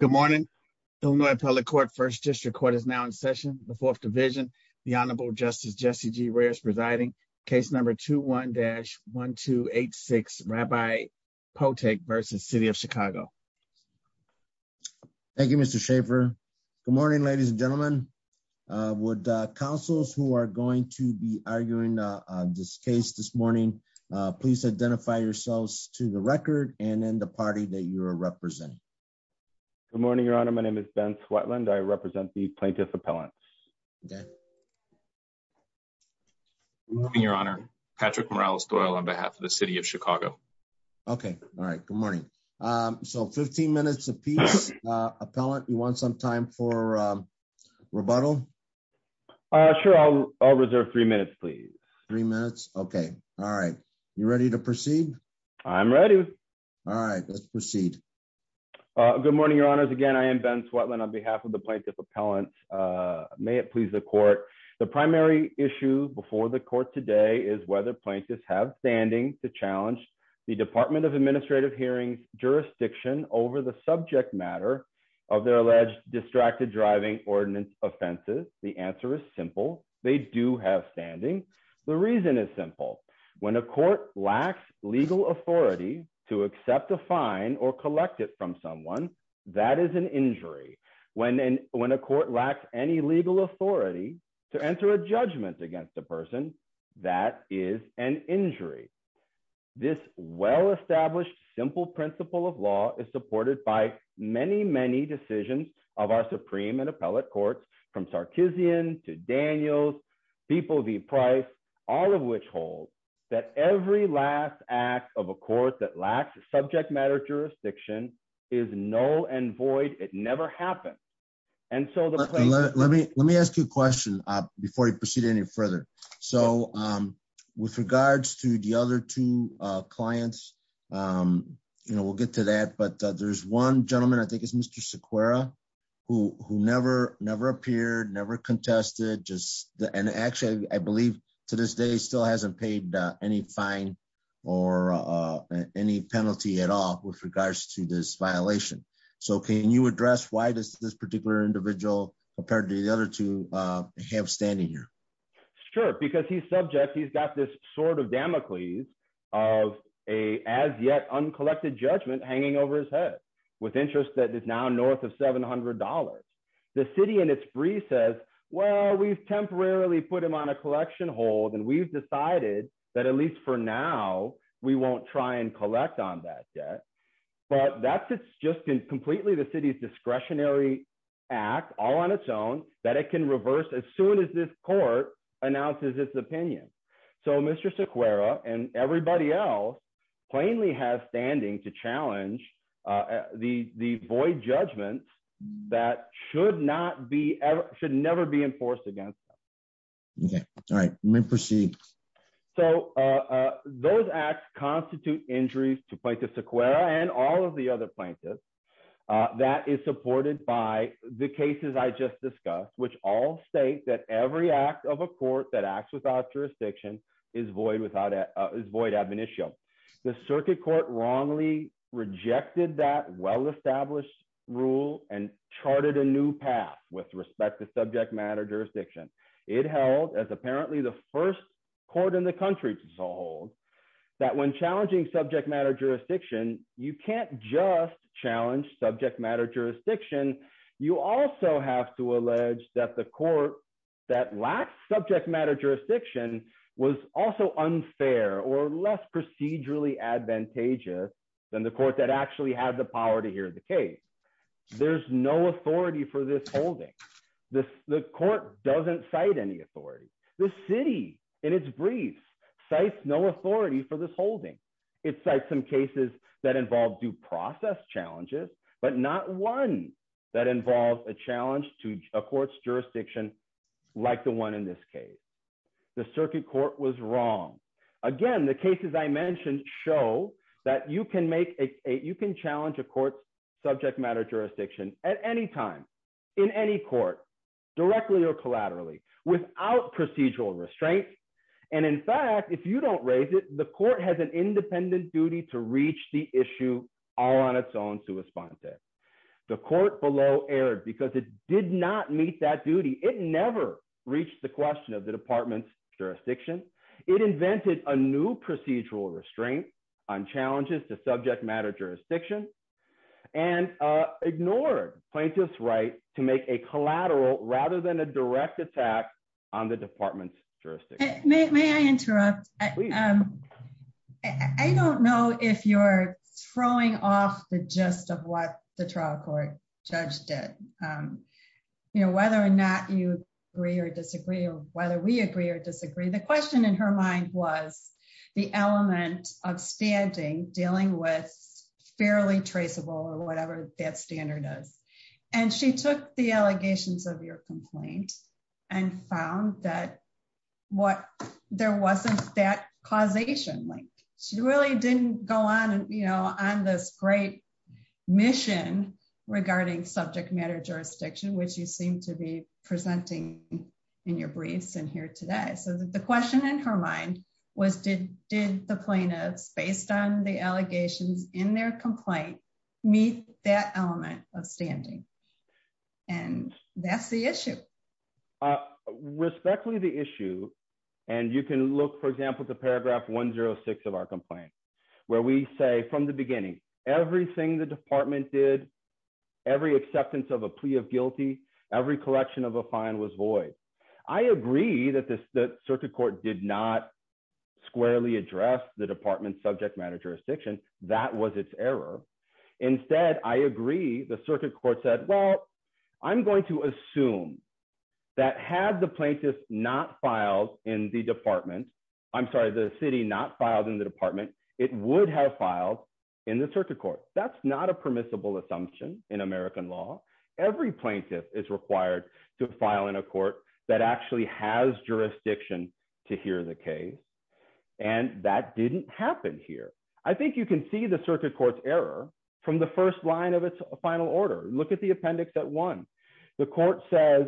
Good morning. Illinois Appellate Court, First District Court is now in session. The Fourth Division, the Honorable Justice Jesse G. Reyes presiding. Case number 21-1286, Rabbi Potek v. City of Chicago. Thank you, Mr. Schaffer. Good morning, ladies and gentlemen. Would councils who are going to be arguing this case this morning please identify yourselves to the record and then the party that you are representing. Good morning, Your Honor. My name is Ben Swetland. I represent the plaintiff appellants. Okay. Good morning, Your Honor. Patrick Morales Doyle on behalf of the City of Chicago. Okay. All right. Good morning. So 15 minutes a piece. Appellant, you want some time for rebuttal? Sure. I'll reserve three minutes, please. Three minutes. Okay. All right. You ready to proceed? I'm ready. All right. Let's proceed. Good morning, Your Honors. Again, I am Ben Swetland on behalf of the plaintiff appellants. May it please the court. The primary issue before the court today is whether plaintiffs have standing to challenge the Department of Administrative Hearings jurisdiction over the subject matter of their alleged distracted driving ordinance offenses. The answer is simple. They do have standing. The reason is simple. When a court lacks legal authority to accept a fine or collect it from someone, that is an injury. When a court lacks any legal authority to enter a judgment against a person, that is an injury. This well-established simple principle of law is supported by many, many decisions of our Supreme and appellate courts, from Sarkissian to Daniels, People v. Price, all of which hold that every last act of a court that lacks a subject matter jurisdiction is null and void. It never happens. Let me ask you a question before we proceed any further. With regards to the other two clients, we'll get to that, but there's one gentleman, I believe, who never appeared, never contested, and actually I believe to this day still hasn't paid any fine or any penalty at all with regards to this violation. So can you address why does this particular individual compared to the other two have standing here? Sure. Because he's subject. He's got this sort of Damocles of an as-yet-uncollected judgment hanging over his head with interest that is now north of $700. The city in its brief says, well, we've temporarily put him on a collection hold and we've decided that at least for now, we won't try and collect on that yet. But that's just completely the city's discretionary act, all on its own, that it can reverse as soon as this court announces its opinion. So Mr. Sequeira and everybody else plainly has standing to challenge the void judgment that should never be enforced against them. Okay. All right. You may proceed. So those acts constitute injuries to Plaintiff Sequeira and all of the other plaintiffs that is supported by the cases I just discussed, which all state that every act of a court that acts without jurisdiction is void admonitio. The circuit court wrongly rejected that well-established rule and charted a new path with respect to subject matter jurisdiction. It held as apparently the first court in the country to hold that when challenging subject matter jurisdiction, you can't just challenge subject matter jurisdiction. You also have to allege that the court that lacks subject matter jurisdiction was also unfair or less procedurally advantageous than the court that actually had the power to hear the case. There's no authority for this holding. The court doesn't cite any authority. The city in its brief cites no authority for this holding. It cites some cases that involve due process challenges, but not one that involves a challenge to a court's jurisdiction like the one in this case. The circuit court was wrong. Again, the cases I mentioned show that you can challenge a court's subject matter jurisdiction at any time in any court directly or collaterally without procedural restraint. In fact, if you don't raise it, the court has an independent duty to reach the issue all on its own to respond to it. The court below erred because it did not meet that duty. It never reached the question of the department's jurisdiction. It invented a new procedural restraint on challenges to subject matter jurisdiction and ignored plaintiff's right to make a collateral rather than a direct attack on the department's May I interrupt? I don't know if you're throwing off the gist of what the trial court judge did. Whether or not you agree or disagree or whether we agree or disagree, the question in her mind was the element of standing dealing with fairly traceable or whatever that standard is. She took the allegations of your complaint and found that there wasn't that causation. She really didn't go on this great mission regarding subject matter jurisdiction, which you seem to be presenting in your briefs and here today. The question in her mind was did the plaintiffs based on the allegations in their complaint meet that element of standing? And that's the issue. Respectfully, the issue and you can look, for example, to paragraph 106 of our complaint where we say from the beginning, everything the department did, every acceptance of a plea of guilty, every collection of a fine was void. I agree that the circuit court did not squarely address the department's subject matter jurisdiction. That was its error. Instead, I agree the circuit court said, well, I'm going to assume that had the plaintiff not filed in the department, I'm sorry, the city not filed in the department, it would have filed in the circuit court. That's not a permissible assumption in American law. Every plaintiff is required to file in a court that actually has jurisdiction to hear the case. And that didn't happen here. I think you can see the circuit court's error from the first line of its final order. Look at the appendix at one. The court says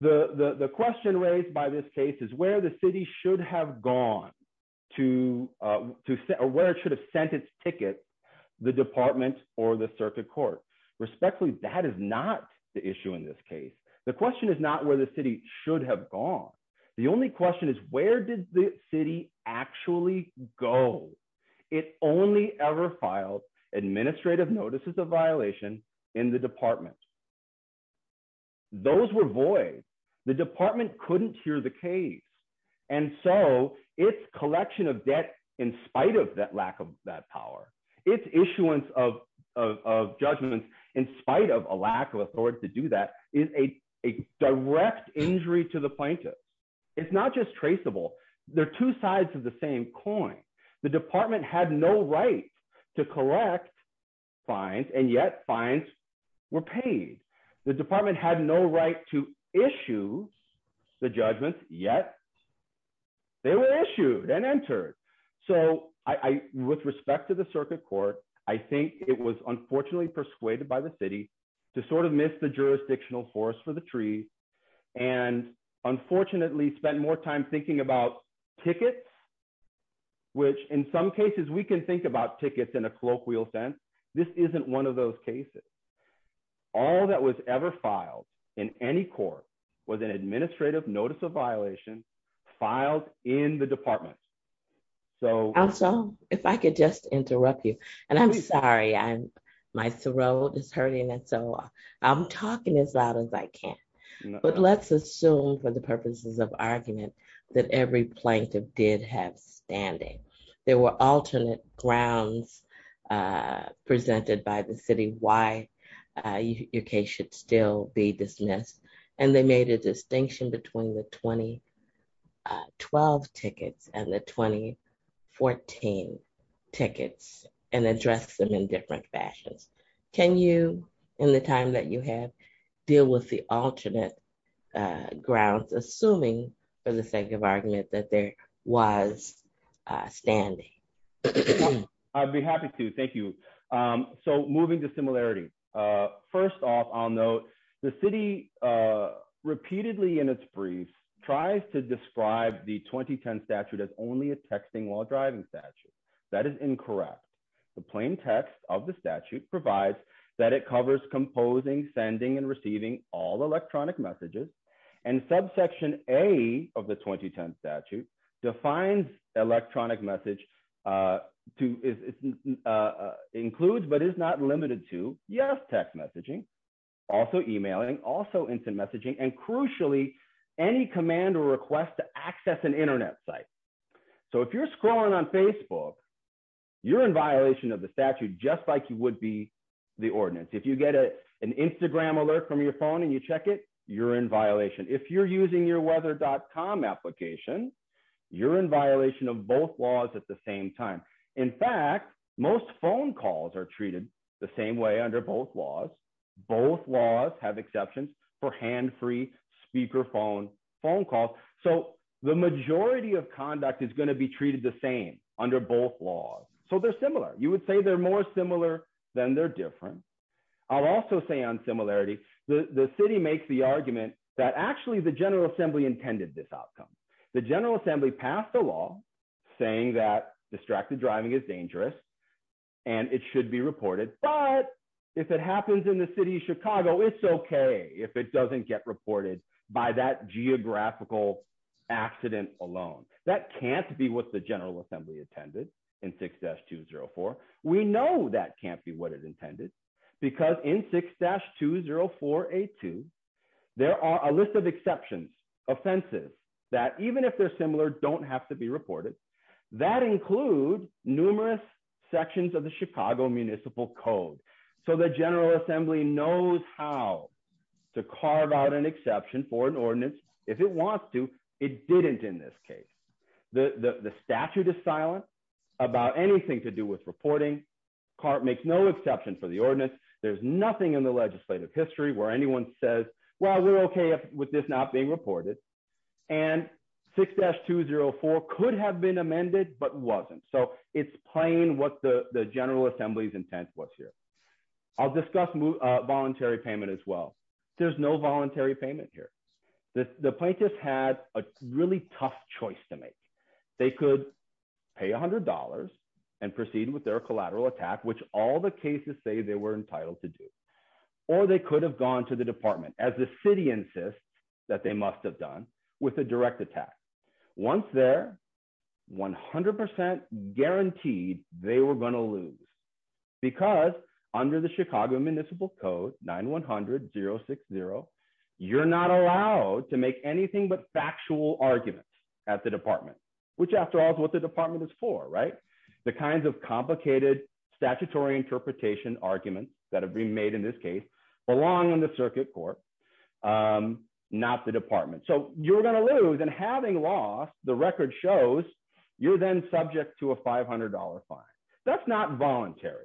the question raised by this case is where the city should have gone to or where it should have sent its ticket, the department or the circuit court. Respectfully, that is not the issue in this case. The question is not where the city should have gone. The only question is where did the city actually go? It only ever filed administrative notices of violation in the department. Those were void. The department couldn't hear the case. And so its collection of debt, in spite of that lack of that power, its issuance of judgments, in spite of a lack of authority to do that, is a direct injury to the plaintiff. It's not just traceable. They're two sides of the same coin. The department had no right to correct fines, and yet fines were paid. The department had no right to issue the judgments, yet they were issued and entered. So with respect to the circuit court, I think it was unfortunately persuaded by the city to sort of miss the jurisdictional horse for the tree, and unfortunately spent more time thinking about tickets, which in some cases we can think about tickets in a colloquial sense. This isn't one of those cases. All that was ever filed in any court was an administrative notice of violation filed in the department. So... Also, if I could just interrupt you, and I'm sorry, my throat is hurting, and so I'm talking as loud as I can. But let's assume for the purposes of argument that every plaintiff did have standing. There were alternate grounds presented by the city why your case should still be dismissed, and they made a distinction between the 2012 tickets and the 2014 tickets, and addressed them in different fashions. Can you, in the time that you have, deal with the alternate grounds, assuming for the sake of argument that there was standing? I'd be happy to. Thank you. So moving to similarity. First off, I'll note the city repeatedly in its briefs tries to describe the 2010 statute as only a texting while driving statute. That is incorrect. The plain text of the statute provides that it covers composing, sending, and receiving all electronic messages, and subsection A of the 2010 statute defines electronic message to include, but is not limited to, yes, text messaging, also emailing, also instant messaging, and crucially, any command or request to access an internet site. So if you're scrolling on Facebook, you're in violation of the statute just like you would be the ordinance. If you get an Instagram alert from your phone and you check it, you're in violation. If you're using your weather.com application, you're in violation of both laws at the same time. In fact, most phone calls are treated the same way under both laws. Both laws have exceptions for hand-free speakerphone phone calls. So the majority of conduct is going to be treated the same under both laws. So they're similar. You would say they're more similar than they're different. I'll also say on similarity, the city makes the argument that actually the General Assembly intended this outcome. The General Assembly passed a law saying that distracted driving is dangerous and it should be reported. But if it happens in the city of Chicago, it's okay if it doesn't get reported by that geographical accident alone. That can't be what the General Assembly intended in 6-204. We know that can't be what it intended because in 6-20482, there are a list of exceptions, offenses that even if they're similar, don't have to be reported. That includes numerous sections of the Chicago Municipal Code. So the General Assembly knows how to carve out an exception for an ordinance. If it wants to, it didn't in this case. The statute is silent about anything to do with reporting. CART makes no exception for the ordinance. There's nothing in the legislative history where anyone says, well, we're okay with this not being reported. And 6-204 could have been amended, but wasn't. So it's playing what the General Assembly's intent was here. I'll discuss voluntary payment as well. There's no voluntary payment here. The plaintiffs had a really tough choice to make. They could pay $100 and proceed with their collateral attack, which all the cases say they were entitled to do. Or they could have gone to the department as the city insists that they must have done with a direct attack. Once there, 100% guaranteed they were going to lose. Because under the Chicago Municipal Code, 9-100-060, you're not allowed to make anything but factual arguments at the department, which after all is what the department is for, right? The kinds of complicated statutory interpretation arguments that have been made in this case belong in the circuit court, not the department. So you're going to lose. And having lost, the record shows you're then subject to a $500 fine. That's not voluntary,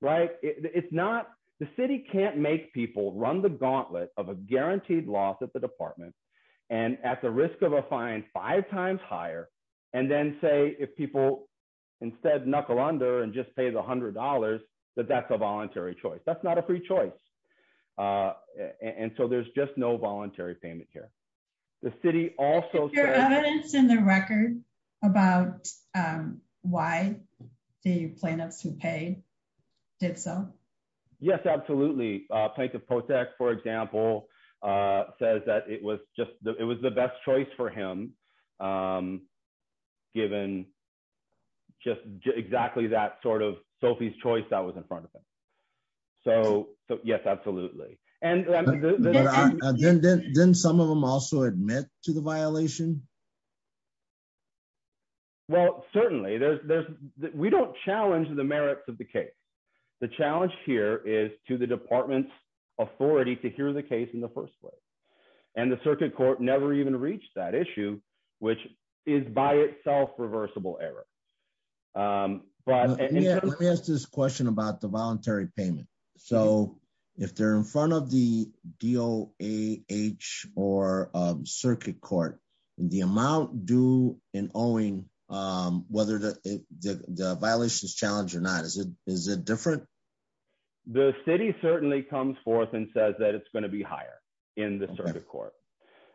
right? The city can't make people run the gauntlet of a guaranteed loss at the department and at the risk of a fine five times higher, and then say, if people instead knuckle under and just pay the $100, that that's a voluntary choice. That's not a free choice. And so there's just no voluntary payment here. The city also- Is there evidence in the record about why the plaintiffs who paid did so? Yes, absolutely. Plaintiff Potek, for example, says that it was the best choice for him. Given just exactly that sort of Sophie's choice that was in front of him. So yes, absolutely. And then some of them also admit to the violation? Well, certainly we don't challenge the merits of the case. The challenge here is to the department's authority to hear the case in the first place. And the circuit court never even reached that issue, which is by itself reversible error. Let me ask this question about the voluntary payment. So if they're in front of the DOAH or circuit court, the amount due in owing, whether the violation is challenged or not, is it different? The city certainly comes forth and says that it's going to be higher in the circuit court.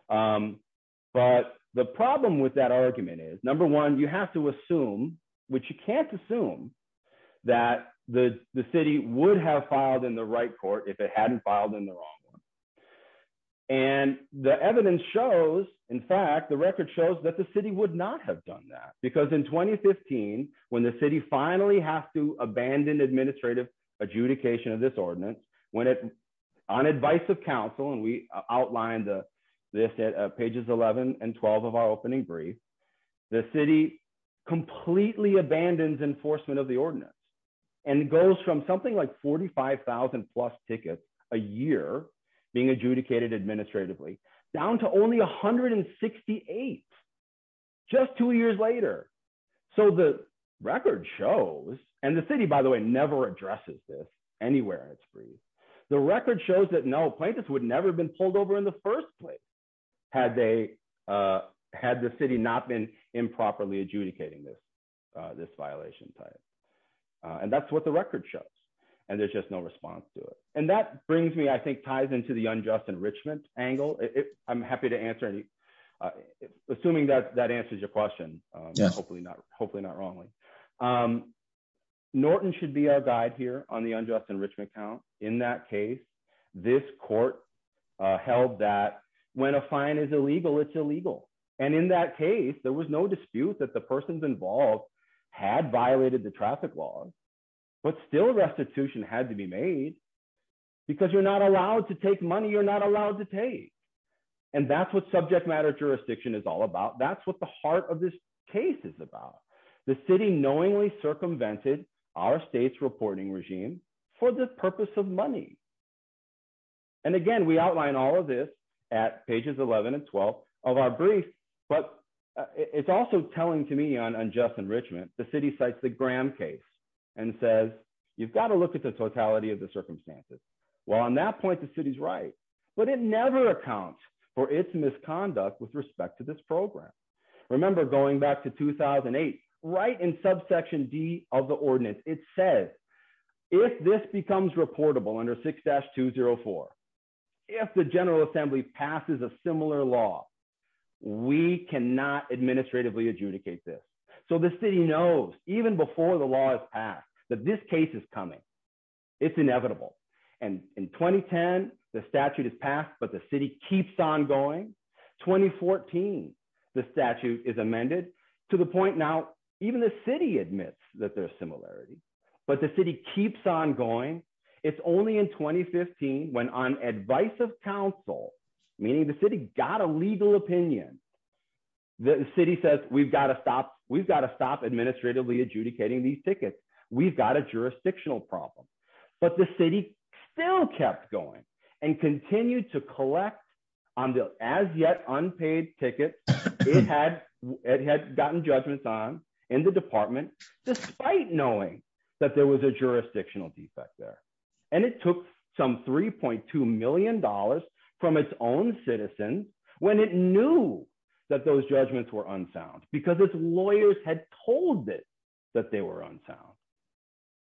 But the problem with that argument is, number one, you have to assume, which you can't assume, that the city would have filed in the right court if it hadn't filed in the wrong one. And the evidence shows, in fact, the record shows that the city would not have done that. Because in 2015, when the city finally has to abandon administrative adjudication of this pages 11 and 12 of our opening brief, the city completely abandons enforcement of the ordinance and goes from something like 45,000 plus tickets a year being adjudicated administratively down to only 168 just two years later. So the record shows, and the city, by the way, never addresses this anywhere in its brief. The record shows that no, plaintiffs would never have been pulled over in the first place had the city not been improperly adjudicating this violation type. And that's what the record shows. And there's just no response to it. And that brings me, I think, ties into the unjust enrichment angle. I'm happy to answer any, assuming that answers your question, hopefully not wrongly. But Norton should be our guide here on the unjust enrichment count. In that case, this court held that when a fine is illegal, it's illegal. And in that case, there was no dispute that the persons involved had violated the traffic laws, but still restitution had to be made. Because you're not allowed to take money you're not allowed to take. And that's what subject matter jurisdiction is all about. That's what the heart of this case is about. The city knowingly circumvented our state's reporting regime for the purpose of money. And again, we outline all of this at pages 11 and 12 of our brief. But it's also telling to me on unjust enrichment. The city cites the Graham case and says, you've got to look at the totality of the circumstances. Well, on that point, the city's right. But it never accounts for its misconduct with respect to this program. Remember, going back to 2008, right in subsection D of the ordinance, it says, if this becomes reportable under 6-204, if the General Assembly passes a similar law, we cannot administratively adjudicate this. So the city knows even before the law is passed, that this case is coming. It's inevitable. And in 2010, the statute is passed, but the city keeps on going. 2014, the statute is amended to the point now, even the city admits that there's similarity. But the city keeps on going. It's only in 2015, when on advice of counsel, meaning the city got a legal opinion. The city says, we've got to stop. We've got to stop administratively adjudicating these tickets. We've got a jurisdictional problem. But the city still kept going and continued to collect on the as yet unpaid ticket. It had gotten judgments on in the department, despite knowing that there was a jurisdictional defect there. And it took some $3.2 million from its own citizens when it knew that those judgments were unsound, because its lawyers had told it that they were unsound.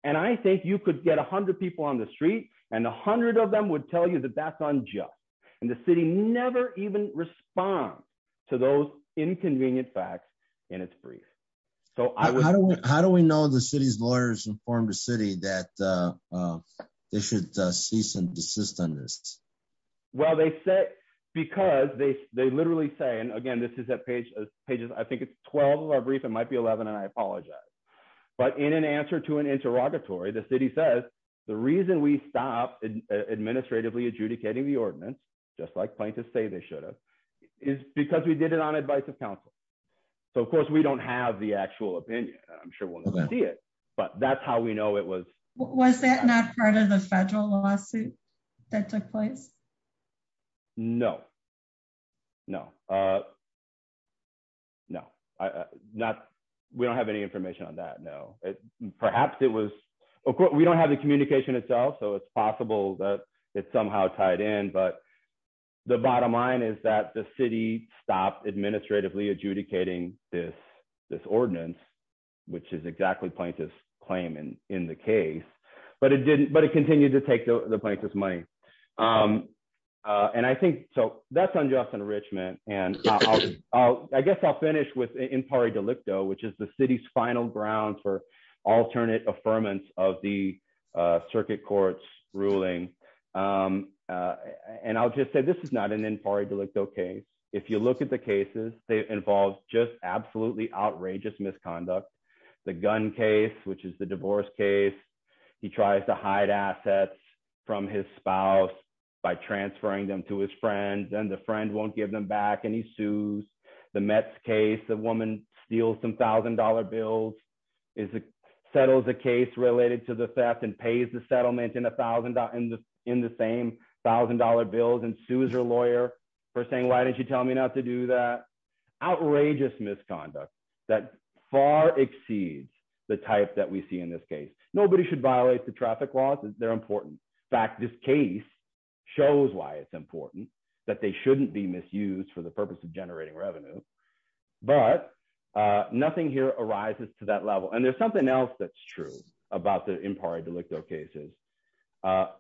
And I think you could get 100 people on the street, and 100 of them would tell you that that's unjust. And the city never even respond to those inconvenient facts in its brief. So how do we know the city's lawyers informed the city that they should cease and desist on this? Well, they said, because they literally say, and again, this is at page pages, I think it's 12 of our brief, it might be 11. And I apologize. But in an answer to an interrogatory, the city says, the reason we stopped administratively adjudicating the ordinance, just like plaintiffs say they should have, is because we did it on advice of counsel. So of course, we don't have the actual opinion. I'm sure we'll see it. But that's how we know it was. Was that not part of the federal lawsuit that took place? No. No. No, not, we don't have any information on that. No, perhaps it was. We don't have the communication itself. So it's possible that it's somehow tied in. But the bottom line is that the city stopped administratively adjudicating this ordinance, which is exactly plaintiff's claim in the case, but it continued to take the plaintiff's money. And I think, so that's unjust enrichment. And I guess I'll finish with impari delicto, which is the city's final ground for alternate affirmance of the circuit court's ruling. And I'll just say, this is not an impari delicto case. If you look at the cases, they involve just absolutely outrageous misconduct. The gun case, which is the divorce case. He tries to hide assets from his spouse by transferring them to his friends, and the friend won't give them back, and he sues. The Mets case, the woman steals some $1,000 bills, settles a case related to the theft and pays the settlement in the same $1,000 bills and sues her lawyer for saying, why didn't you tell me not to do that? Outrageous misconduct that far exceeds the type that we see in this case. Nobody should violate the traffic laws, they're important. In fact, this case shows why it's important, that they shouldn't be misused for the purpose of generating revenue. But nothing here arises to that level. And there's something else that's true about the impari delicto cases.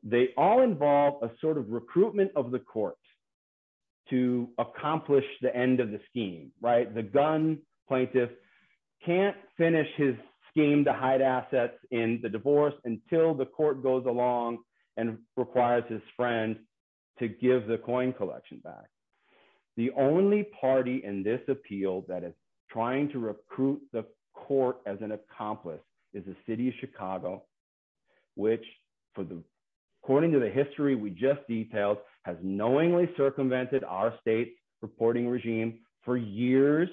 They all involve a sort of recruitment of the court to accomplish the end of the scheme, right? The gun plaintiff can't finish his scheme to hide assets in the divorce until the court goes along and requires his friend to give the coin collection back. The only party in this appeal that is trying to recruit the court as an accomplice is the city of Chicago, which, according to the history we just detailed, has knowingly circumvented our state reporting regime for years,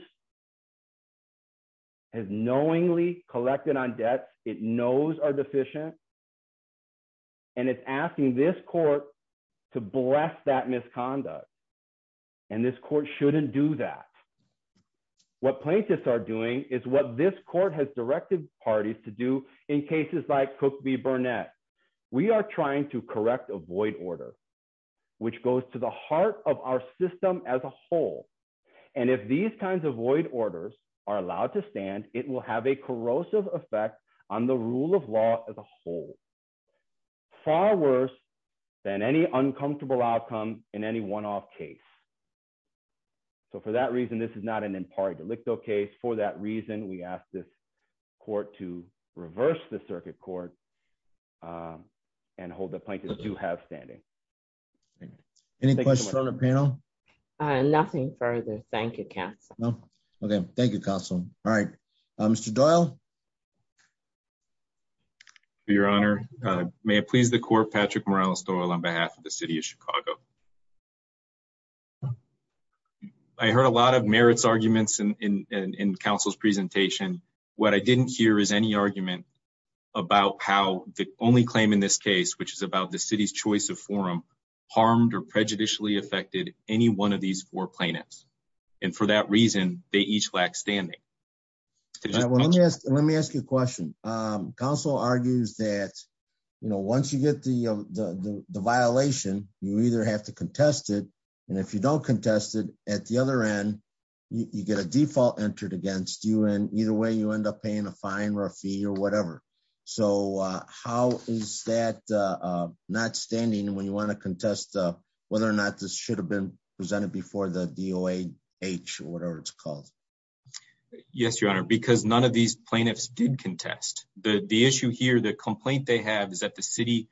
has knowingly collected on debts it knows are deficient. And it's asking this court to bless that misconduct. And this court shouldn't do that. What plaintiffs are doing is what this court has directed parties to do in cases like Cook v. Burnett. We are trying to correct a void order, which goes to the heart of our system as a whole. And if these kinds of void orders are allowed to stand, it will have a corrosive effect on the rule of law as a whole, far worse than any uncomfortable outcome in any one-off case. So for that reason, this is not an impari delicto case. For that reason, we ask this court to reverse the circuit court and hold the plaintiffs to have standing. Any questions from the panel? Nothing further. Thank you, counsel. No? OK. Thank you, counsel. All right. Mr. Doyle? Your Honor, may it please the court, Patrick Morales-Doyle on behalf of the city of Chicago. I heard a lot of merits arguments in counsel's presentation. What I didn't hear is any argument about how the only claim in this case, which is about the city's choice of forum, harmed or prejudicially affected any one of these four plaintiffs. And for that reason, they each lack standing. Well, let me ask you a question. Counsel argues that, you know, once you get the violation, you either have the right to contest it. And if you don't contest it, at the other end, you get a default entered against you. And either way, you end up paying a fine or a fee or whatever. So how is that not standing when you want to contest whether or not this should have been presented before the DOH or whatever it's called? Yes, Your Honor, because none of these plaintiffs did contest. The issue here, the complaint they have is that the city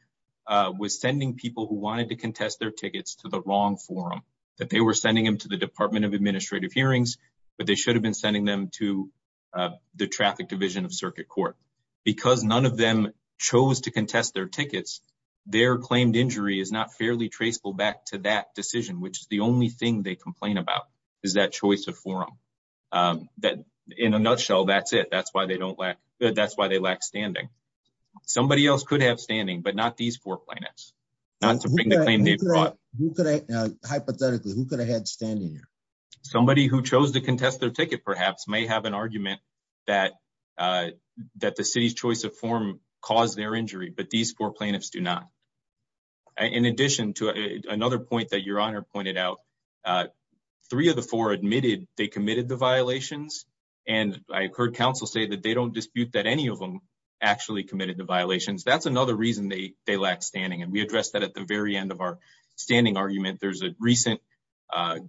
was sending people who wanted to contest their tickets to the wrong forum, that they were sending them to the Department of Administrative Hearings, but they should have been sending them to the Traffic Division of Circuit Court. Because none of them chose to contest their tickets, their claimed injury is not fairly traceable back to that decision, which is the only thing they complain about, is that choice of forum. In a nutshell, that's it. That's why they don't lack. That's why they lack standing. Somebody else could have standing, but not these four plaintiffs, not to bring the claim they brought. Hypothetically, who could have had standing here? Somebody who chose to contest their ticket, perhaps, may have an argument that the city's choice of forum caused their injury, but these four plaintiffs do not. In addition to another point that Your Honor pointed out, three of the four admitted they committed the violations, and I've heard counsel say that they don't dispute that any of them actually committed the violations. That's another reason they lack standing, and we addressed that at the very end of our standing argument. There's a recent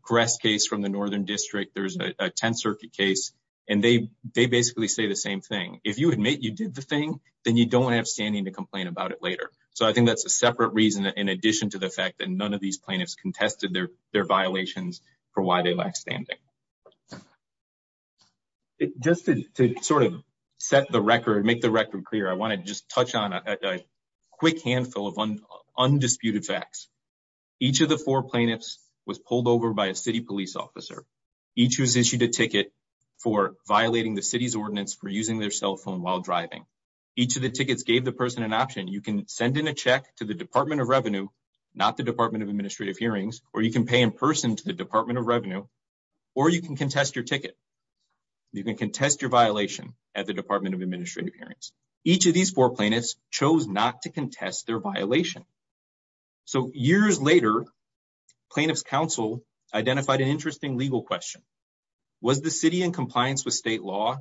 Gress case from the Northern District. There's a Tenth Circuit case, and they basically say the same thing. If you admit you did the thing, then you don't have standing to complain about it later. So I think that's a separate reason in addition to the fact that none of these plaintiffs contested their violations for why they lack standing. Just to sort of set the record, make the record clear, I want to just touch on a quick handful of undisputed facts. Each of the four plaintiffs was pulled over by a city police officer, each who's issued a ticket for violating the city's ordinance for using their cell phone while driving. Each of the tickets gave the person an option. You can send in a check to the Department of Revenue, not the Department of Administrative Revenue, or you can contest your ticket. You can contest your violation at the Department of Administrative Hearings. Each of these four plaintiffs chose not to contest their violation. So years later, plaintiff's counsel identified an interesting legal question. Was the city in compliance with state law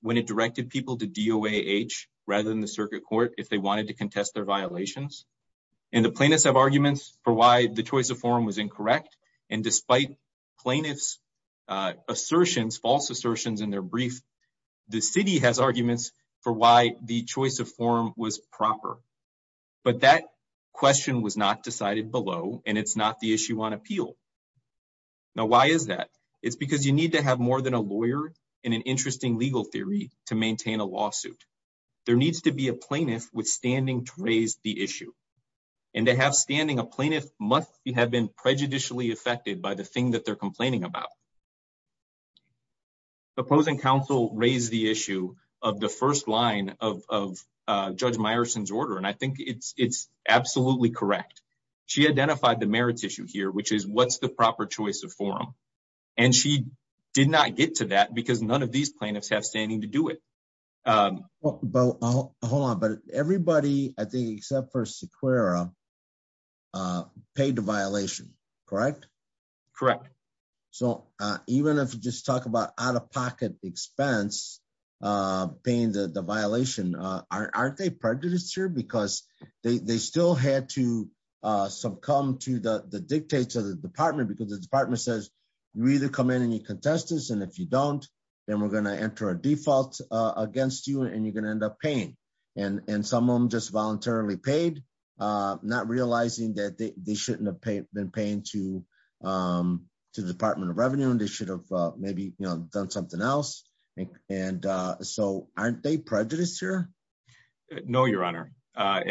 when it directed people to DOAH rather than the circuit court if they wanted to contest their violations? And the plaintiffs have arguments for why the choice of form was incorrect. And despite plaintiff's assertions, false assertions in their brief, the city has arguments for why the choice of form was proper. But that question was not decided below, and it's not the issue on appeal. Now, why is that? It's because you need to have more than a lawyer and an interesting legal theory to maintain a lawsuit. There needs to be a plaintiff with standing to raise the issue. And to have standing, a plaintiff must have been prejudicially affected by the thing that they're complaining about. The opposing counsel raised the issue of the first line of Judge Meyerson's order, and I think it's absolutely correct. She identified the merits issue here, which is what's the proper choice of form. And she did not get to that because none of these plaintiffs have standing to do it. But hold on. But everybody, I think, except for Sequeira, paid the violation, correct? Correct. So even if you just talk about out-of-pocket expense, paying the violation, aren't they prejudiced here? Because they still had to succumb to the dictates of the department, because the department says, you either come in and you contest this, and if you don't, then we're going to enter a default against you, and you're going to end up paying. And some of them just voluntarily paid, not realizing that they shouldn't have been paying to the Department of Revenue, and they should have maybe done something else. And so aren't they prejudiced here? No, Your Honor. I'm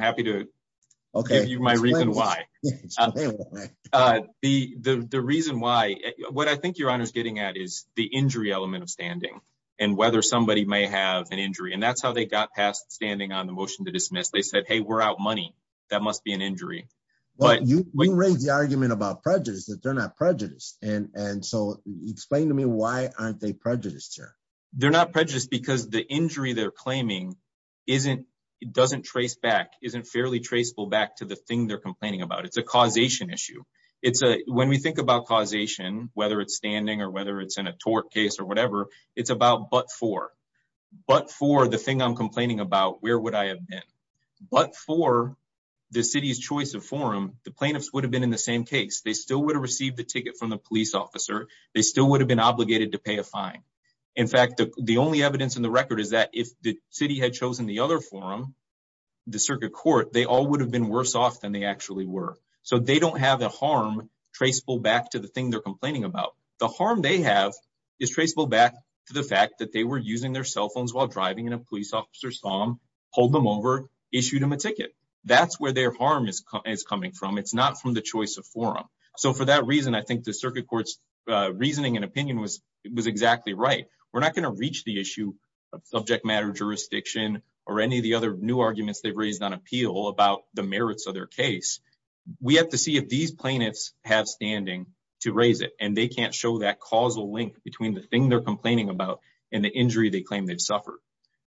happy to give you my reason why. Okay. The reason why, what I think Your Honor is getting at is the injury element of standing, and whether somebody may have an injury. And that's how they got past standing on the motion to dismiss. They said, hey, we're out money. That must be an injury. Well, you raised the argument about prejudice, that they're not prejudiced. And so explain to me why aren't they prejudiced here? They're not prejudiced because the injury they're claiming doesn't trace back, isn't fairly traceable back to the thing they're complaining about. It's a causation issue. When we think about causation, whether it's standing or whether it's in a tort case or whatever, it's about but for. But for the thing I'm complaining about, where would I have been? But for the city's choice of forum, the plaintiffs would have been in the same case. They still would have received the ticket from the police officer. They still would have been obligated to pay a fine. In fact, the only evidence in the record is that if the city had chosen the other forum, the circuit court, they all would have been worse off than they actually were. They don't have a harm traceable back to the thing they're complaining about. The harm they have is traceable back to the fact that they were using their cell phones while driving and a police officer saw them, pulled them over, issued them a ticket. That's where their harm is coming from. It's not from the choice of forum. For that reason, I think the circuit court's reasoning and opinion was exactly right. We're not going to reach the issue of subject matter jurisdiction or any of the other new arguments they've raised on appeal about the merits of their case. We have to see if these plaintiffs have standing to raise it and they can't show that causal link between the thing they're complaining about and the injury they claim they've suffered.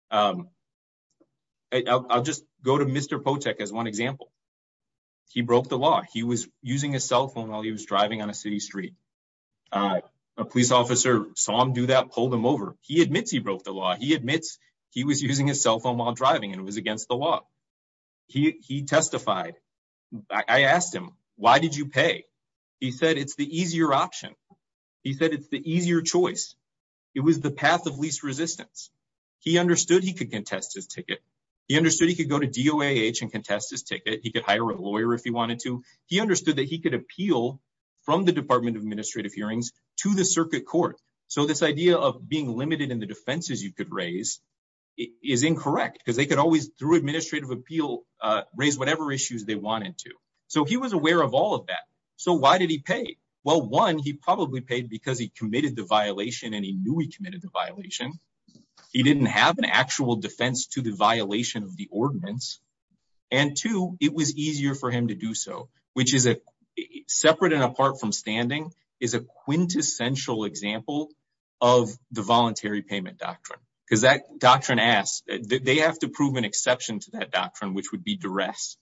I'll just go to Mr. Potek as one example. He broke the law. He was using his cell phone while he was driving on a city street. A police officer saw him do that, pulled him over. He admits he broke the law. He admits he was using his cell phone while driving and it was against the law. He testified. I asked him, why did you pay? He said, it's the easier option. He said, it's the easier choice. It was the path of least resistance. He understood he could contest his ticket. He understood he could go to DOAH and contest his ticket. He could hire a lawyer if he wanted to. He understood that he could appeal from the Department of Administrative Hearings to the circuit court. So this idea of being limited in the defenses you could raise is incorrect because they raised whatever issues they wanted to. So he was aware of all of that. So why did he pay? Well, one, he probably paid because he committed the violation and he knew he committed the violation. He didn't have an actual defense to the violation of the ordinance. And two, it was easier for him to do so, which is separate and apart from standing, is a quintessential example of the voluntary payment doctrine. Because that doctrine asks, they have to prove an exception to that doctrine, which would be duress.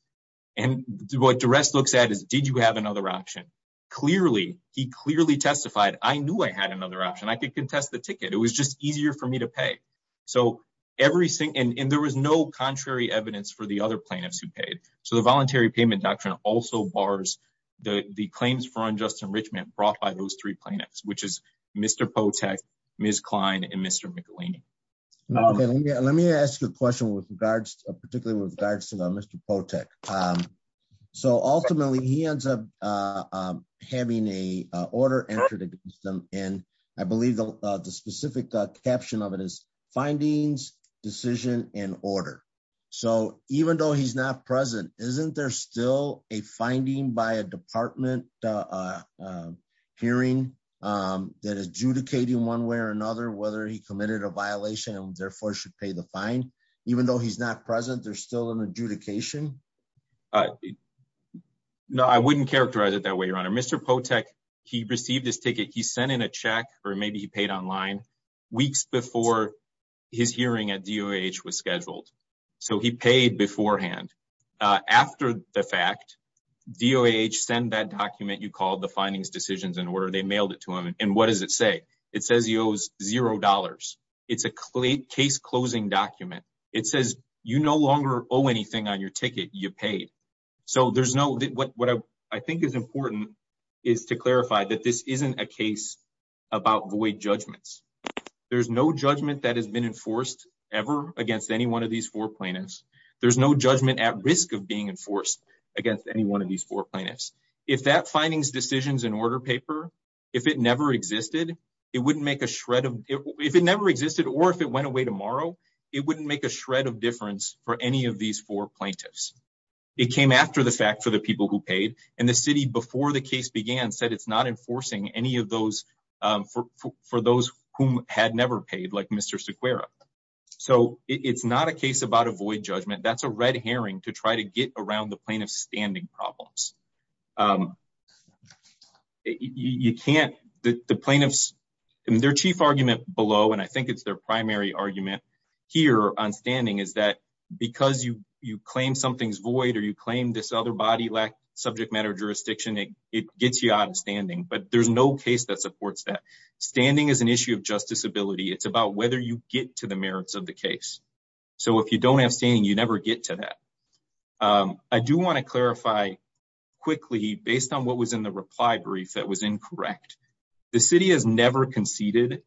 And what duress looks at is, did you have another option? Clearly, he clearly testified, I knew I had another option. I could contest the ticket. It was just easier for me to pay. So everything, and there was no contrary evidence for the other plaintiffs who paid. So the voluntary payment doctrine also bars the claims for unjust enrichment brought by those three plaintiffs, which is Mr. Potek, Ms. Klein, and Mr. McElhaney. Let me ask you a question with regards, particularly with regards to Mr. Potek. So ultimately, he ends up having a order entered against him. And I believe the specific caption of it is findings, decision, and order. So even though he's not present, isn't there still a finding by a department hearing that adjudicating one way or another, whether he committed a violation and therefore should pay the fine? Even though he's not present, there's still an adjudication? No, I wouldn't characterize it that way, Your Honor. Mr. Potek, he received his ticket. He sent in a check, or maybe he paid online, weeks before his hearing at DOH was scheduled. So he paid beforehand. After the fact, DOH sent that document you called the findings, decisions, and order. They mailed it to him. And what does it say? It says he owes zero dollars. It's a case-closing document. It says, you no longer owe anything on your ticket. You paid. So what I think is important is to clarify that this isn't a case about void judgments. There's no judgment that has been enforced ever against any one of these four plaintiffs. There's no judgment at risk of being enforced against any one of these four plaintiffs. If that findings, decisions, and order paper, if it never existed, it wouldn't make a shred of... If it never existed, or if it went away tomorrow, it wouldn't make a shred of difference for any of these four plaintiffs. It came after the fact for the people who paid. And the city, before the case began, said it's not enforcing any of those for those whom had never paid, like Mr. Sequeira. So it's not a case about a void judgment. That's a red herring to try to get around the plaintiff's standing problems. Their chief argument below, and I think it's their primary argument here on standing, is because you claim something's void, or you claim this other body lacked subject matter jurisdiction, it gets you out of standing. But there's no case that supports that. Standing is an issue of justice ability. It's about whether you get to the merits of the case. So if you don't have standing, you never get to that. I do want to clarify quickly, based on what was in the reply brief that was incorrect, the city has never conceded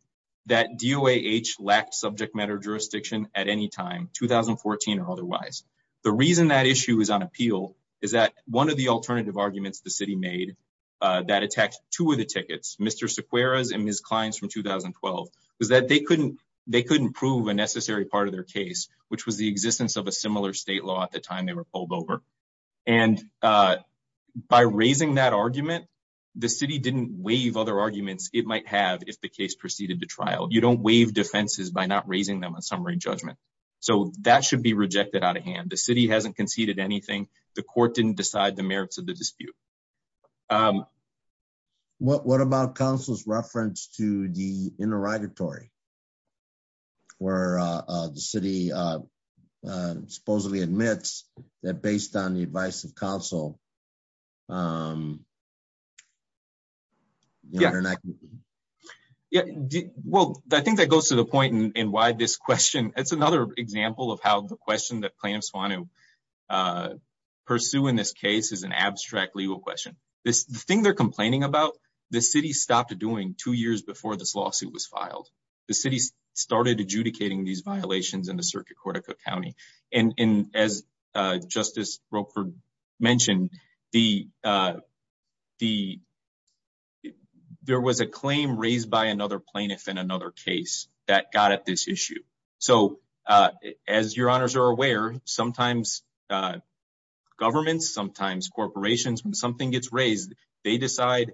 that DOAH lacked subject matter jurisdiction at any time. 2014 or otherwise. The reason that issue is on appeal is that one of the alternative arguments the city made that attacked two of the tickets, Mr. Sequeira's and Ms. Klein's from 2012, was that they couldn't prove a necessary part of their case, which was the existence of a similar state law at the time they were pulled over. And by raising that argument, the city didn't waive other arguments it might have if the case proceeded to trial. You don't waive defenses by not raising them on summary judgment. So that should be rejected out of hand. The city hasn't conceded anything. The court didn't decide the merits of the dispute. What about counsel's reference to the interrogatory? Where the city supposedly admits that based on the advice of counsel. Um, yeah, well, I think that goes to the point in why this question, it's another example of how the question that plaintiffs want to pursue in this case is an abstract legal question. This thing they're complaining about, the city stopped doing two years before this lawsuit was filed. The city started adjudicating these violations in the Circuit Court of Cook County. And as Justice Roper mentioned, there was a claim raised by another plaintiff in another case that got at this issue. So as your honors are aware, sometimes governments, sometimes corporations, when something gets raised, they decide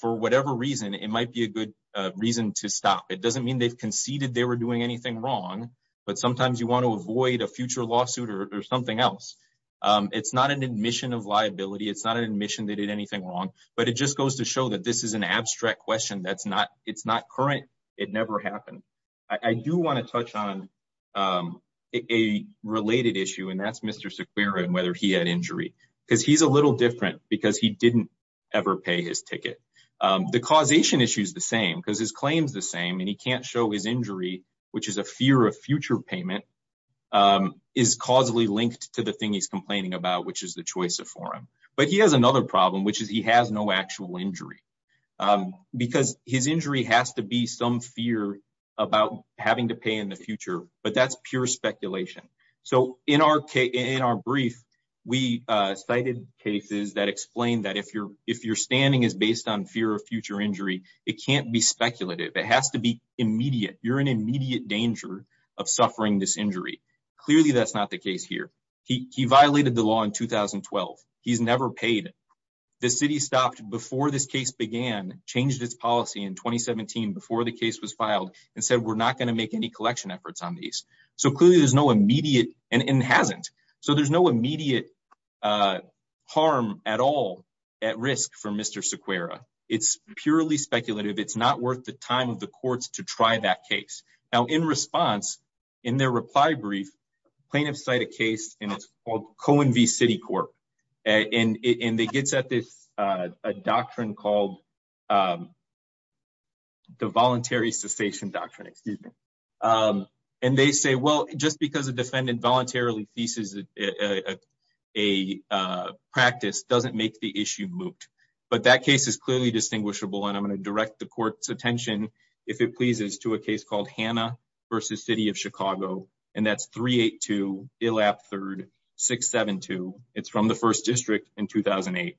for whatever reason, it might be a good reason to stop. It doesn't mean they've conceded they were doing anything wrong, but sometimes you want to avoid a future lawsuit or something else. It's not an admission of liability. It's not an admission they did anything wrong, but it just goes to show that this is an abstract question that's not, it's not current. It never happened. I do want to touch on a related issue and that's Mr. Sequeira and whether he had injury because he's a little different because he didn't ever pay his ticket. The causation issue is the same because his claim is the same and he can't show his injury, which is a fear of future payment, is causally linked to the thing he's complaining about, which is the choice of forum. But he has another problem, which is he has no actual injury because his injury has to be some fear about having to pay in the future, but that's pure speculation. So in our brief, we cited cases that explain that if you're standing is based on fear of future injury, it can't be speculative. It has to be immediate. You're in immediate danger of suffering this injury. Clearly, that's not the case here. He violated the law in 2012. He's never paid. The city stopped before this case began, changed its policy in 2017 before the case was filed and said, we're not going to make any collection efforts on these. So clearly there's no immediate and hasn't. So there's no immediate harm at all at risk for Mr. Sequeira. It's purely speculative. It's not worth the time of the courts to try that case. Now, in response, in their reply brief, plaintiffs cite a case, and it's called Cohen v. Citicorp, and it gets at this doctrine called the voluntary cessation doctrine. Excuse me. And they say, well, just because a defendant voluntarily theses a practice doesn't make the issue moot. But that case is clearly distinguishable, and I'm going to direct the court's attention, if it pleases, to a case called Hanna v. City of Chicago, and that's 382 Illap 3rd 672. It's from the first district in 2008,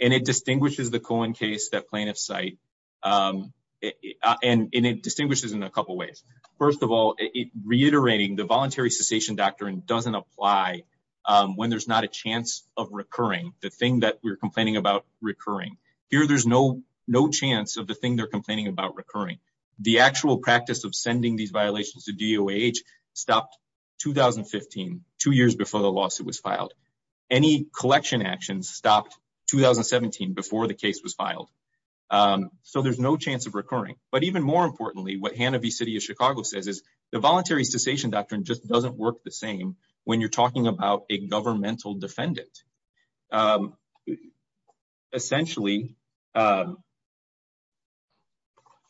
and it distinguishes the Cohen case that plaintiffs cite, and it distinguishes in a couple ways. First of all, reiterating the voluntary cessation doctrine doesn't apply when there's not a chance of recurring. The thing that we're complaining about recurring. Here, there's no chance of the thing they're complaining about recurring. The actual practice of sending these violations to DOH stopped 2015, two years before the lawsuit was filed. Any collection actions stopped 2017, before the case was filed. So there's no chance of recurring. But even more importantly, what Hanna v. City of Chicago says is the voluntary cessation doctrine just doesn't work the same when you're talking about a governmental defendant. So essentially,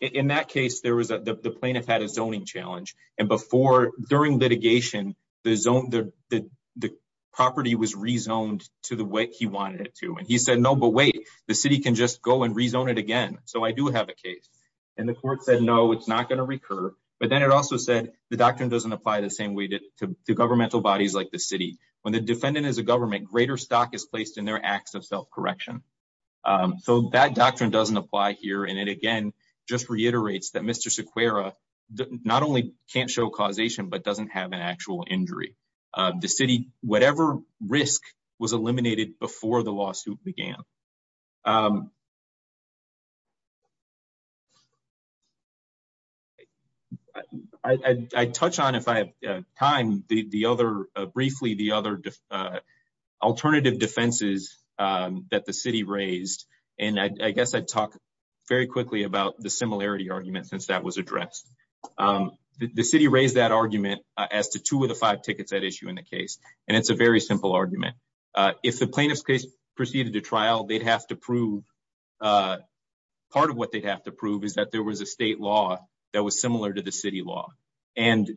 in that case, the plaintiff had a zoning challenge, and before, during litigation, the property was rezoned to the way he wanted it to. And he said, no, but wait, the city can just go and rezone it again. So I do have a case. And the court said, no, it's not going to recur. But then it also said the doctrine doesn't apply the same way to governmental bodies like the city. When the defendant is a government, greater stock is placed in their acts of self-correction. So that doctrine doesn't apply here. And it, again, just reiterates that Mr. Sequeira not only can't show causation, but doesn't have an actual injury. The city, whatever risk, was eliminated before the lawsuit began. I'd touch on, if I have time, briefly the other alternative defenses that the city raised. And I guess I'd talk very quickly about the similarity argument since that was addressed. The city raised that argument as to two of the five tickets at issue in the case. And it's a very simple argument. If the plaintiff's case proceeded to trial, they'd have to prove, part of what they'd have to prove is that there was a state law that was similar to the city law. And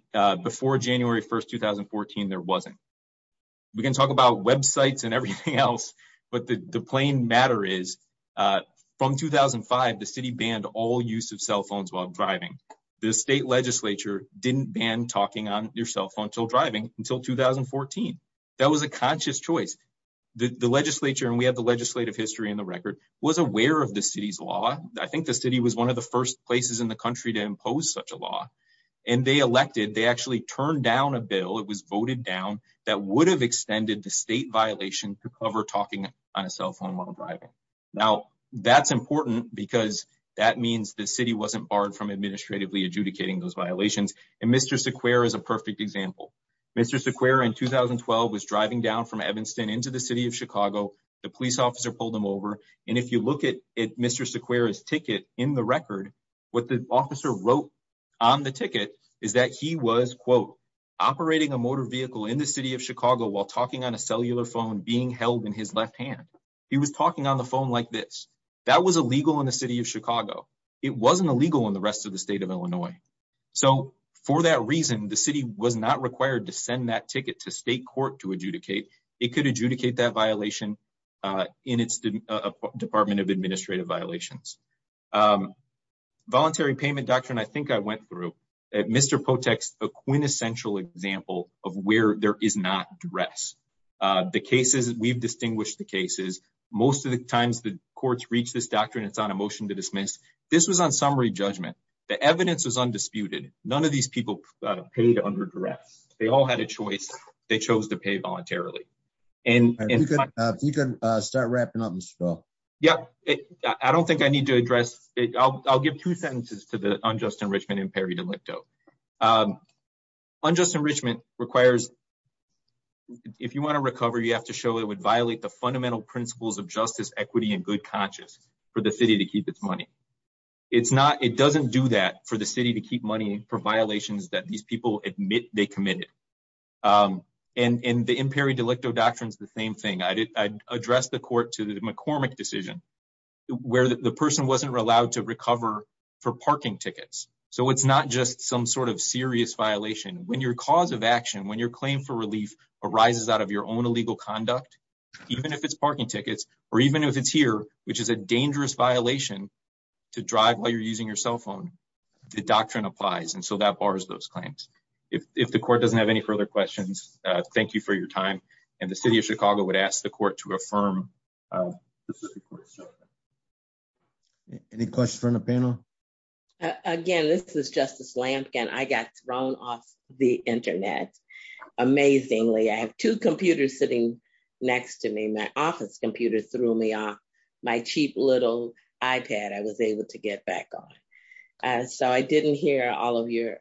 before January 1, 2014, there wasn't. We can talk about websites and everything else. But the plain matter is, from 2005, the city banned all use of cell phones while driving. The state legislature didn't ban talking on your cell phone until driving, until 2014. That was a conscious choice. The legislature, and we have the legislative history in the record, was aware of the city's law. I think the city was one of the first places in the country to impose such a law. And they elected, they actually turned down a bill, it was voted down, that would have extended the state violation to cover talking on a cell phone while driving. Now, that's important because that means the city wasn't barred from administratively adjudicating those violations. And Mr. Sequeira is a perfect example. Mr. Sequeira in 2012 was driving down from Evanston into the city of Chicago. The police officer pulled him over. And if you look at Mr. Sequeira's ticket in the record, what the officer wrote on the ticket is that he was, quote, operating a motor vehicle in the city of Chicago while talking on a cellular phone being held in his left hand. He was talking on the phone like this. That was illegal in the city of Chicago. It wasn't illegal in the rest of the state of Illinois. So for that reason, the city was not required to send that ticket to state court to adjudicate. It could adjudicate that violation in its Department of Administrative Violations. Voluntary Payment Doctrine, I think I went through. Mr. Potek's a quintessential example of where there is not dress. The cases, we've distinguished the cases. Most of the times the courts reach this doctrine, it's on a motion to dismiss. This was on summary judgment. The evidence was undisputed. None of these people paid under dress. They all had a choice. They chose to pay voluntarily. And you can start wrapping up. Yeah, I don't think I need to address it. I'll give two sentences to the unjust enrichment in Perry delicto. Unjust enrichment requires. If you want to recover, you have to show it would violate the fundamental principles of justice, equity and good conscience for the city to keep its money. It's not. It doesn't do that for the city to keep money for violations that these people admit they committed. And the in Perry delicto doctrine is the same thing. I addressed the court to the McCormick decision where the person wasn't allowed to recover for parking tickets. So it's not just some sort of serious violation when your cause of action, when your claim for relief arises out of your own illegal conduct, even if it's parking tickets, or a dangerous violation to drive while you're using your cell phone, the doctrine applies. And so that bars those claims. If the court doesn't have any further questions, thank you for your time. And the city of Chicago would ask the court to affirm. Any questions from the panel? Again, this is Justice Lampkin. I got thrown off the Internet. Amazingly, I have two computers sitting next to me. My office computer threw me off. My cheap little iPad I was able to get back on. So I didn't hear all of your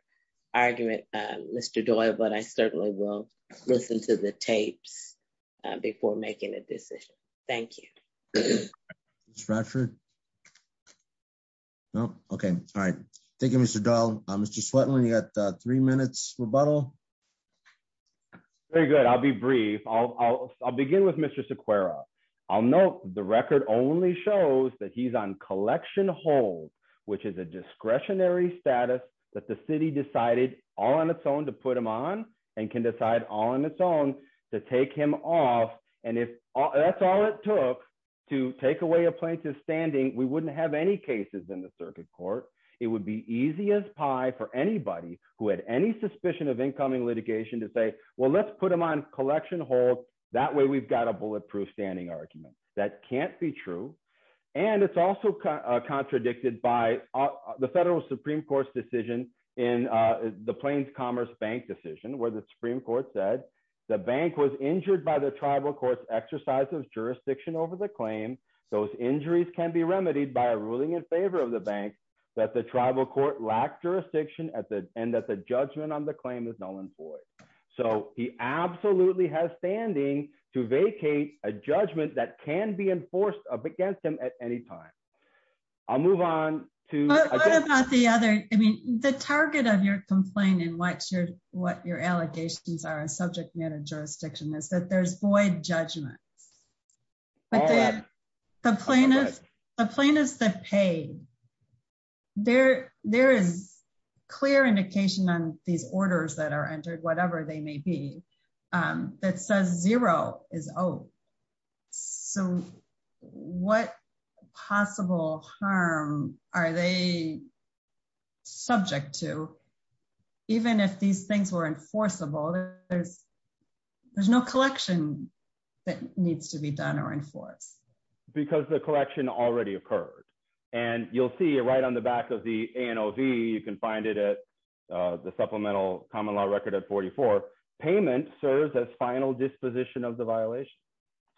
argument, Mr. Doyle. But I certainly will listen to the tapes before making a decision. Thank you. Mr. Bradford. No. Okay. All right. Thank you, Mr. Doyle. Mr. Swetland, you got three minutes rebuttal. Very good. I'll be brief. I'll begin with Mr. Sequeira. I'll note the record only shows that he's on collection hold, which is a discretionary status that the city decided all on its own to put him on and can decide all on its own to take him off. And if that's all it took to take away a plaintiff's standing, we wouldn't have any cases in the circuit court. It would be easy as pie for anybody who had any suspicion of incoming litigation to say, well, let's put him on collection hold. That way we've got a bulletproof standing argument. That can't be true. And it's also contradicted by the federal Supreme Court's decision in the Plains Commerce Bank decision where the Supreme Court said the bank was injured by the tribal court's exercise of jurisdiction over the claim. Those injuries can be remedied by a ruling in favor of the bank that the tribal court lacked jurisdiction and that the judgment on the claim is null and void. So he absolutely has standing to vacate a judgment that can be enforced up against him at any time. I'll move on to the other. I mean, the target of your complaint and what your what your allegations are and subject matter jurisdiction is that there's void judgments. But the plaintiff, the plaintiffs that pay. There there is clear indication on these orders that are entered, whatever they may be, that says zero is 0. So what possible harm are they subject to? Even if these things were enforceable, there's no collection that needs to be done or enforced. Because the collection already occurred. And you'll see it right on the back of the ANOV. You can find it at the Supplemental Common Law Record at 44. Payment serves as final disposition of the violation.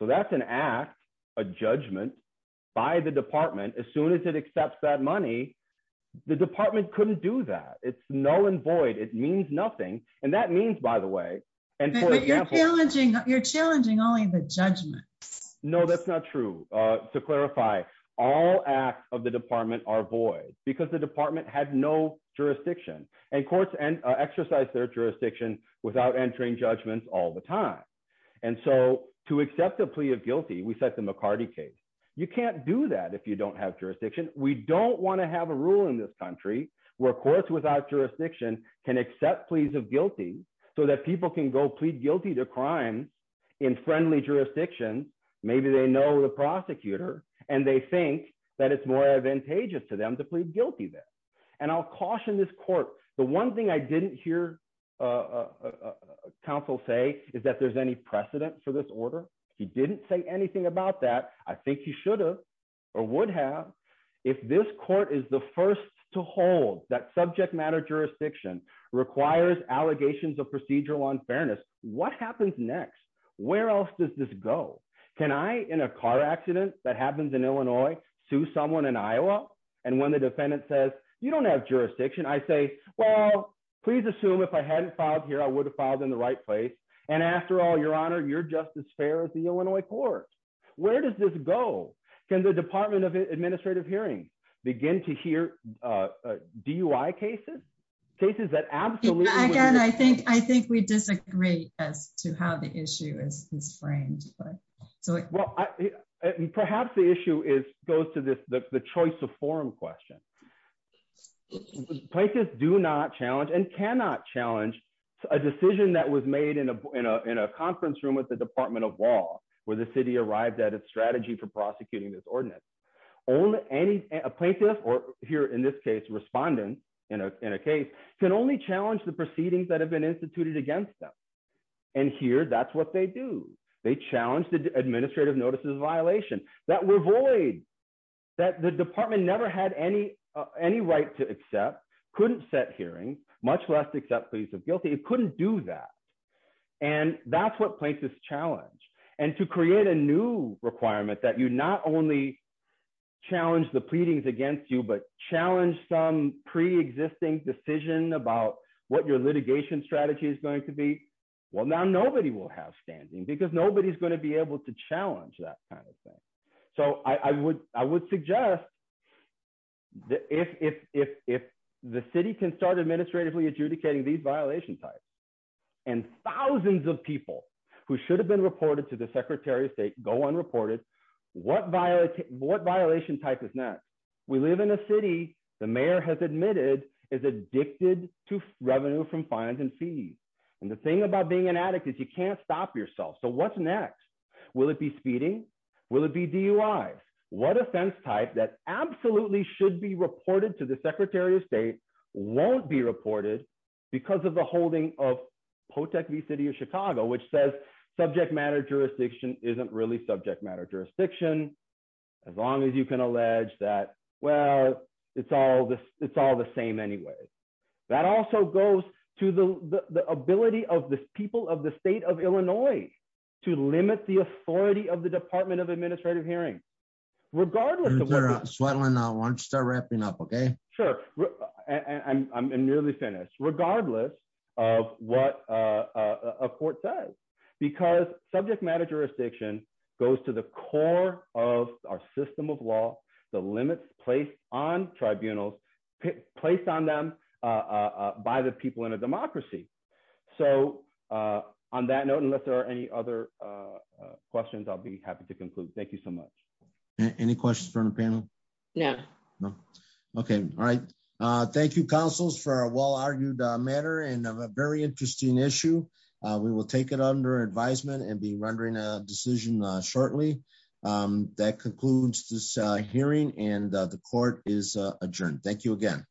So that's an act, a judgment by the department. As soon as it accepts that money, the department couldn't do that. It's null and void. It means nothing. And that means, by the way. And you're challenging only the judgments. No, that's not true. To clarify, all acts of the department are void because the department had no jurisdiction and courts exercise their jurisdiction without entering judgments all the time. And so to accept a plea of guilty, we set the McCarty case. You can't do that if you don't have jurisdiction. We don't want to have a rule in this country where courts without jurisdiction can accept pleas of guilty so that people can go plead guilty to crime in friendly jurisdiction. Maybe they know the prosecutor and they think that it's more advantageous to them to plead guilty there. And I'll caution this court. The one thing I didn't hear counsel say is that there's any precedent for this order. He didn't say anything about that. I think he should have or would have. If this court is the first to hold that subject matter jurisdiction requires allegations of procedural unfairness, what happens next? Where else does this go? Can I, in a car accident that happens in Illinois, sue someone in Iowa? And when the defendant says, you don't have jurisdiction, I say, well, please assume if I hadn't filed here, I would have filed in the right place. And after all, Your Honor, you're just as fair as the Illinois courts. Where does this go? Can the Department of Administrative Hearings begin to hear DUI cases, cases that absolutely I think we disagree as to how the issue is framed. Well, perhaps the issue goes to the choice of forum question. Plaintiffs do not challenge and cannot challenge a decision that was made in a conference room with the Department of Law, where the city arrived at its strategy for prosecuting this ordinance. Only a plaintiff or here in this case, respondent in a case can only challenge the proceedings that have been instituted against them. And here, that's what they do. They challenge the administrative notices violation that were void, that the department never had any right to accept, couldn't set hearings, much less accept pleas of guilty. It couldn't do that. And that's what plaintiffs challenge. And to create a new requirement that you not only challenge the pleadings against you, but challenge some pre-existing decision about what your litigation strategy is going to be. Well, now nobody will have standing because nobody's going to be able to challenge that kind of thing. So I would suggest that if the city can start administratively adjudicating these violation types, and thousands of people who should have been reported to the Secretary of State go unreported, what violation type is next? We live in a city the mayor has admitted is addicted to revenue from fines and fees. And the thing about being an addict is you can't stop yourself. So what's next? Will it be speeding? Will it be DUIs? What offense type that absolutely should be reported to the Secretary of State won't be reported because of the holding of Potec v. City of Chicago, which says subject matter jurisdiction isn't really subject matter jurisdiction as long as you can allege that. Well, it's all the same anyway. That also goes to the ability of the people of the state of Illinois to limit the authority of the Department of Administrative Hearings. Regardless... Mr. Swetland, why don't you start wrapping up, okay? Sure. And I'm nearly finished. Regardless of what a court says. Because subject matter jurisdiction goes to the core of our system of law, the limits placed on tribunals, placed on them by the people in a democracy. So on that note, unless there are any other questions, I'll be happy to conclude. Thank you so much. Any questions from the panel? No. Okay, all right. Thank you, counsels, for a well-argued matter and a very interesting issue. We will take it under advisement and be rendering a decision shortly. That concludes this hearing and the court is adjourned. Thank you again.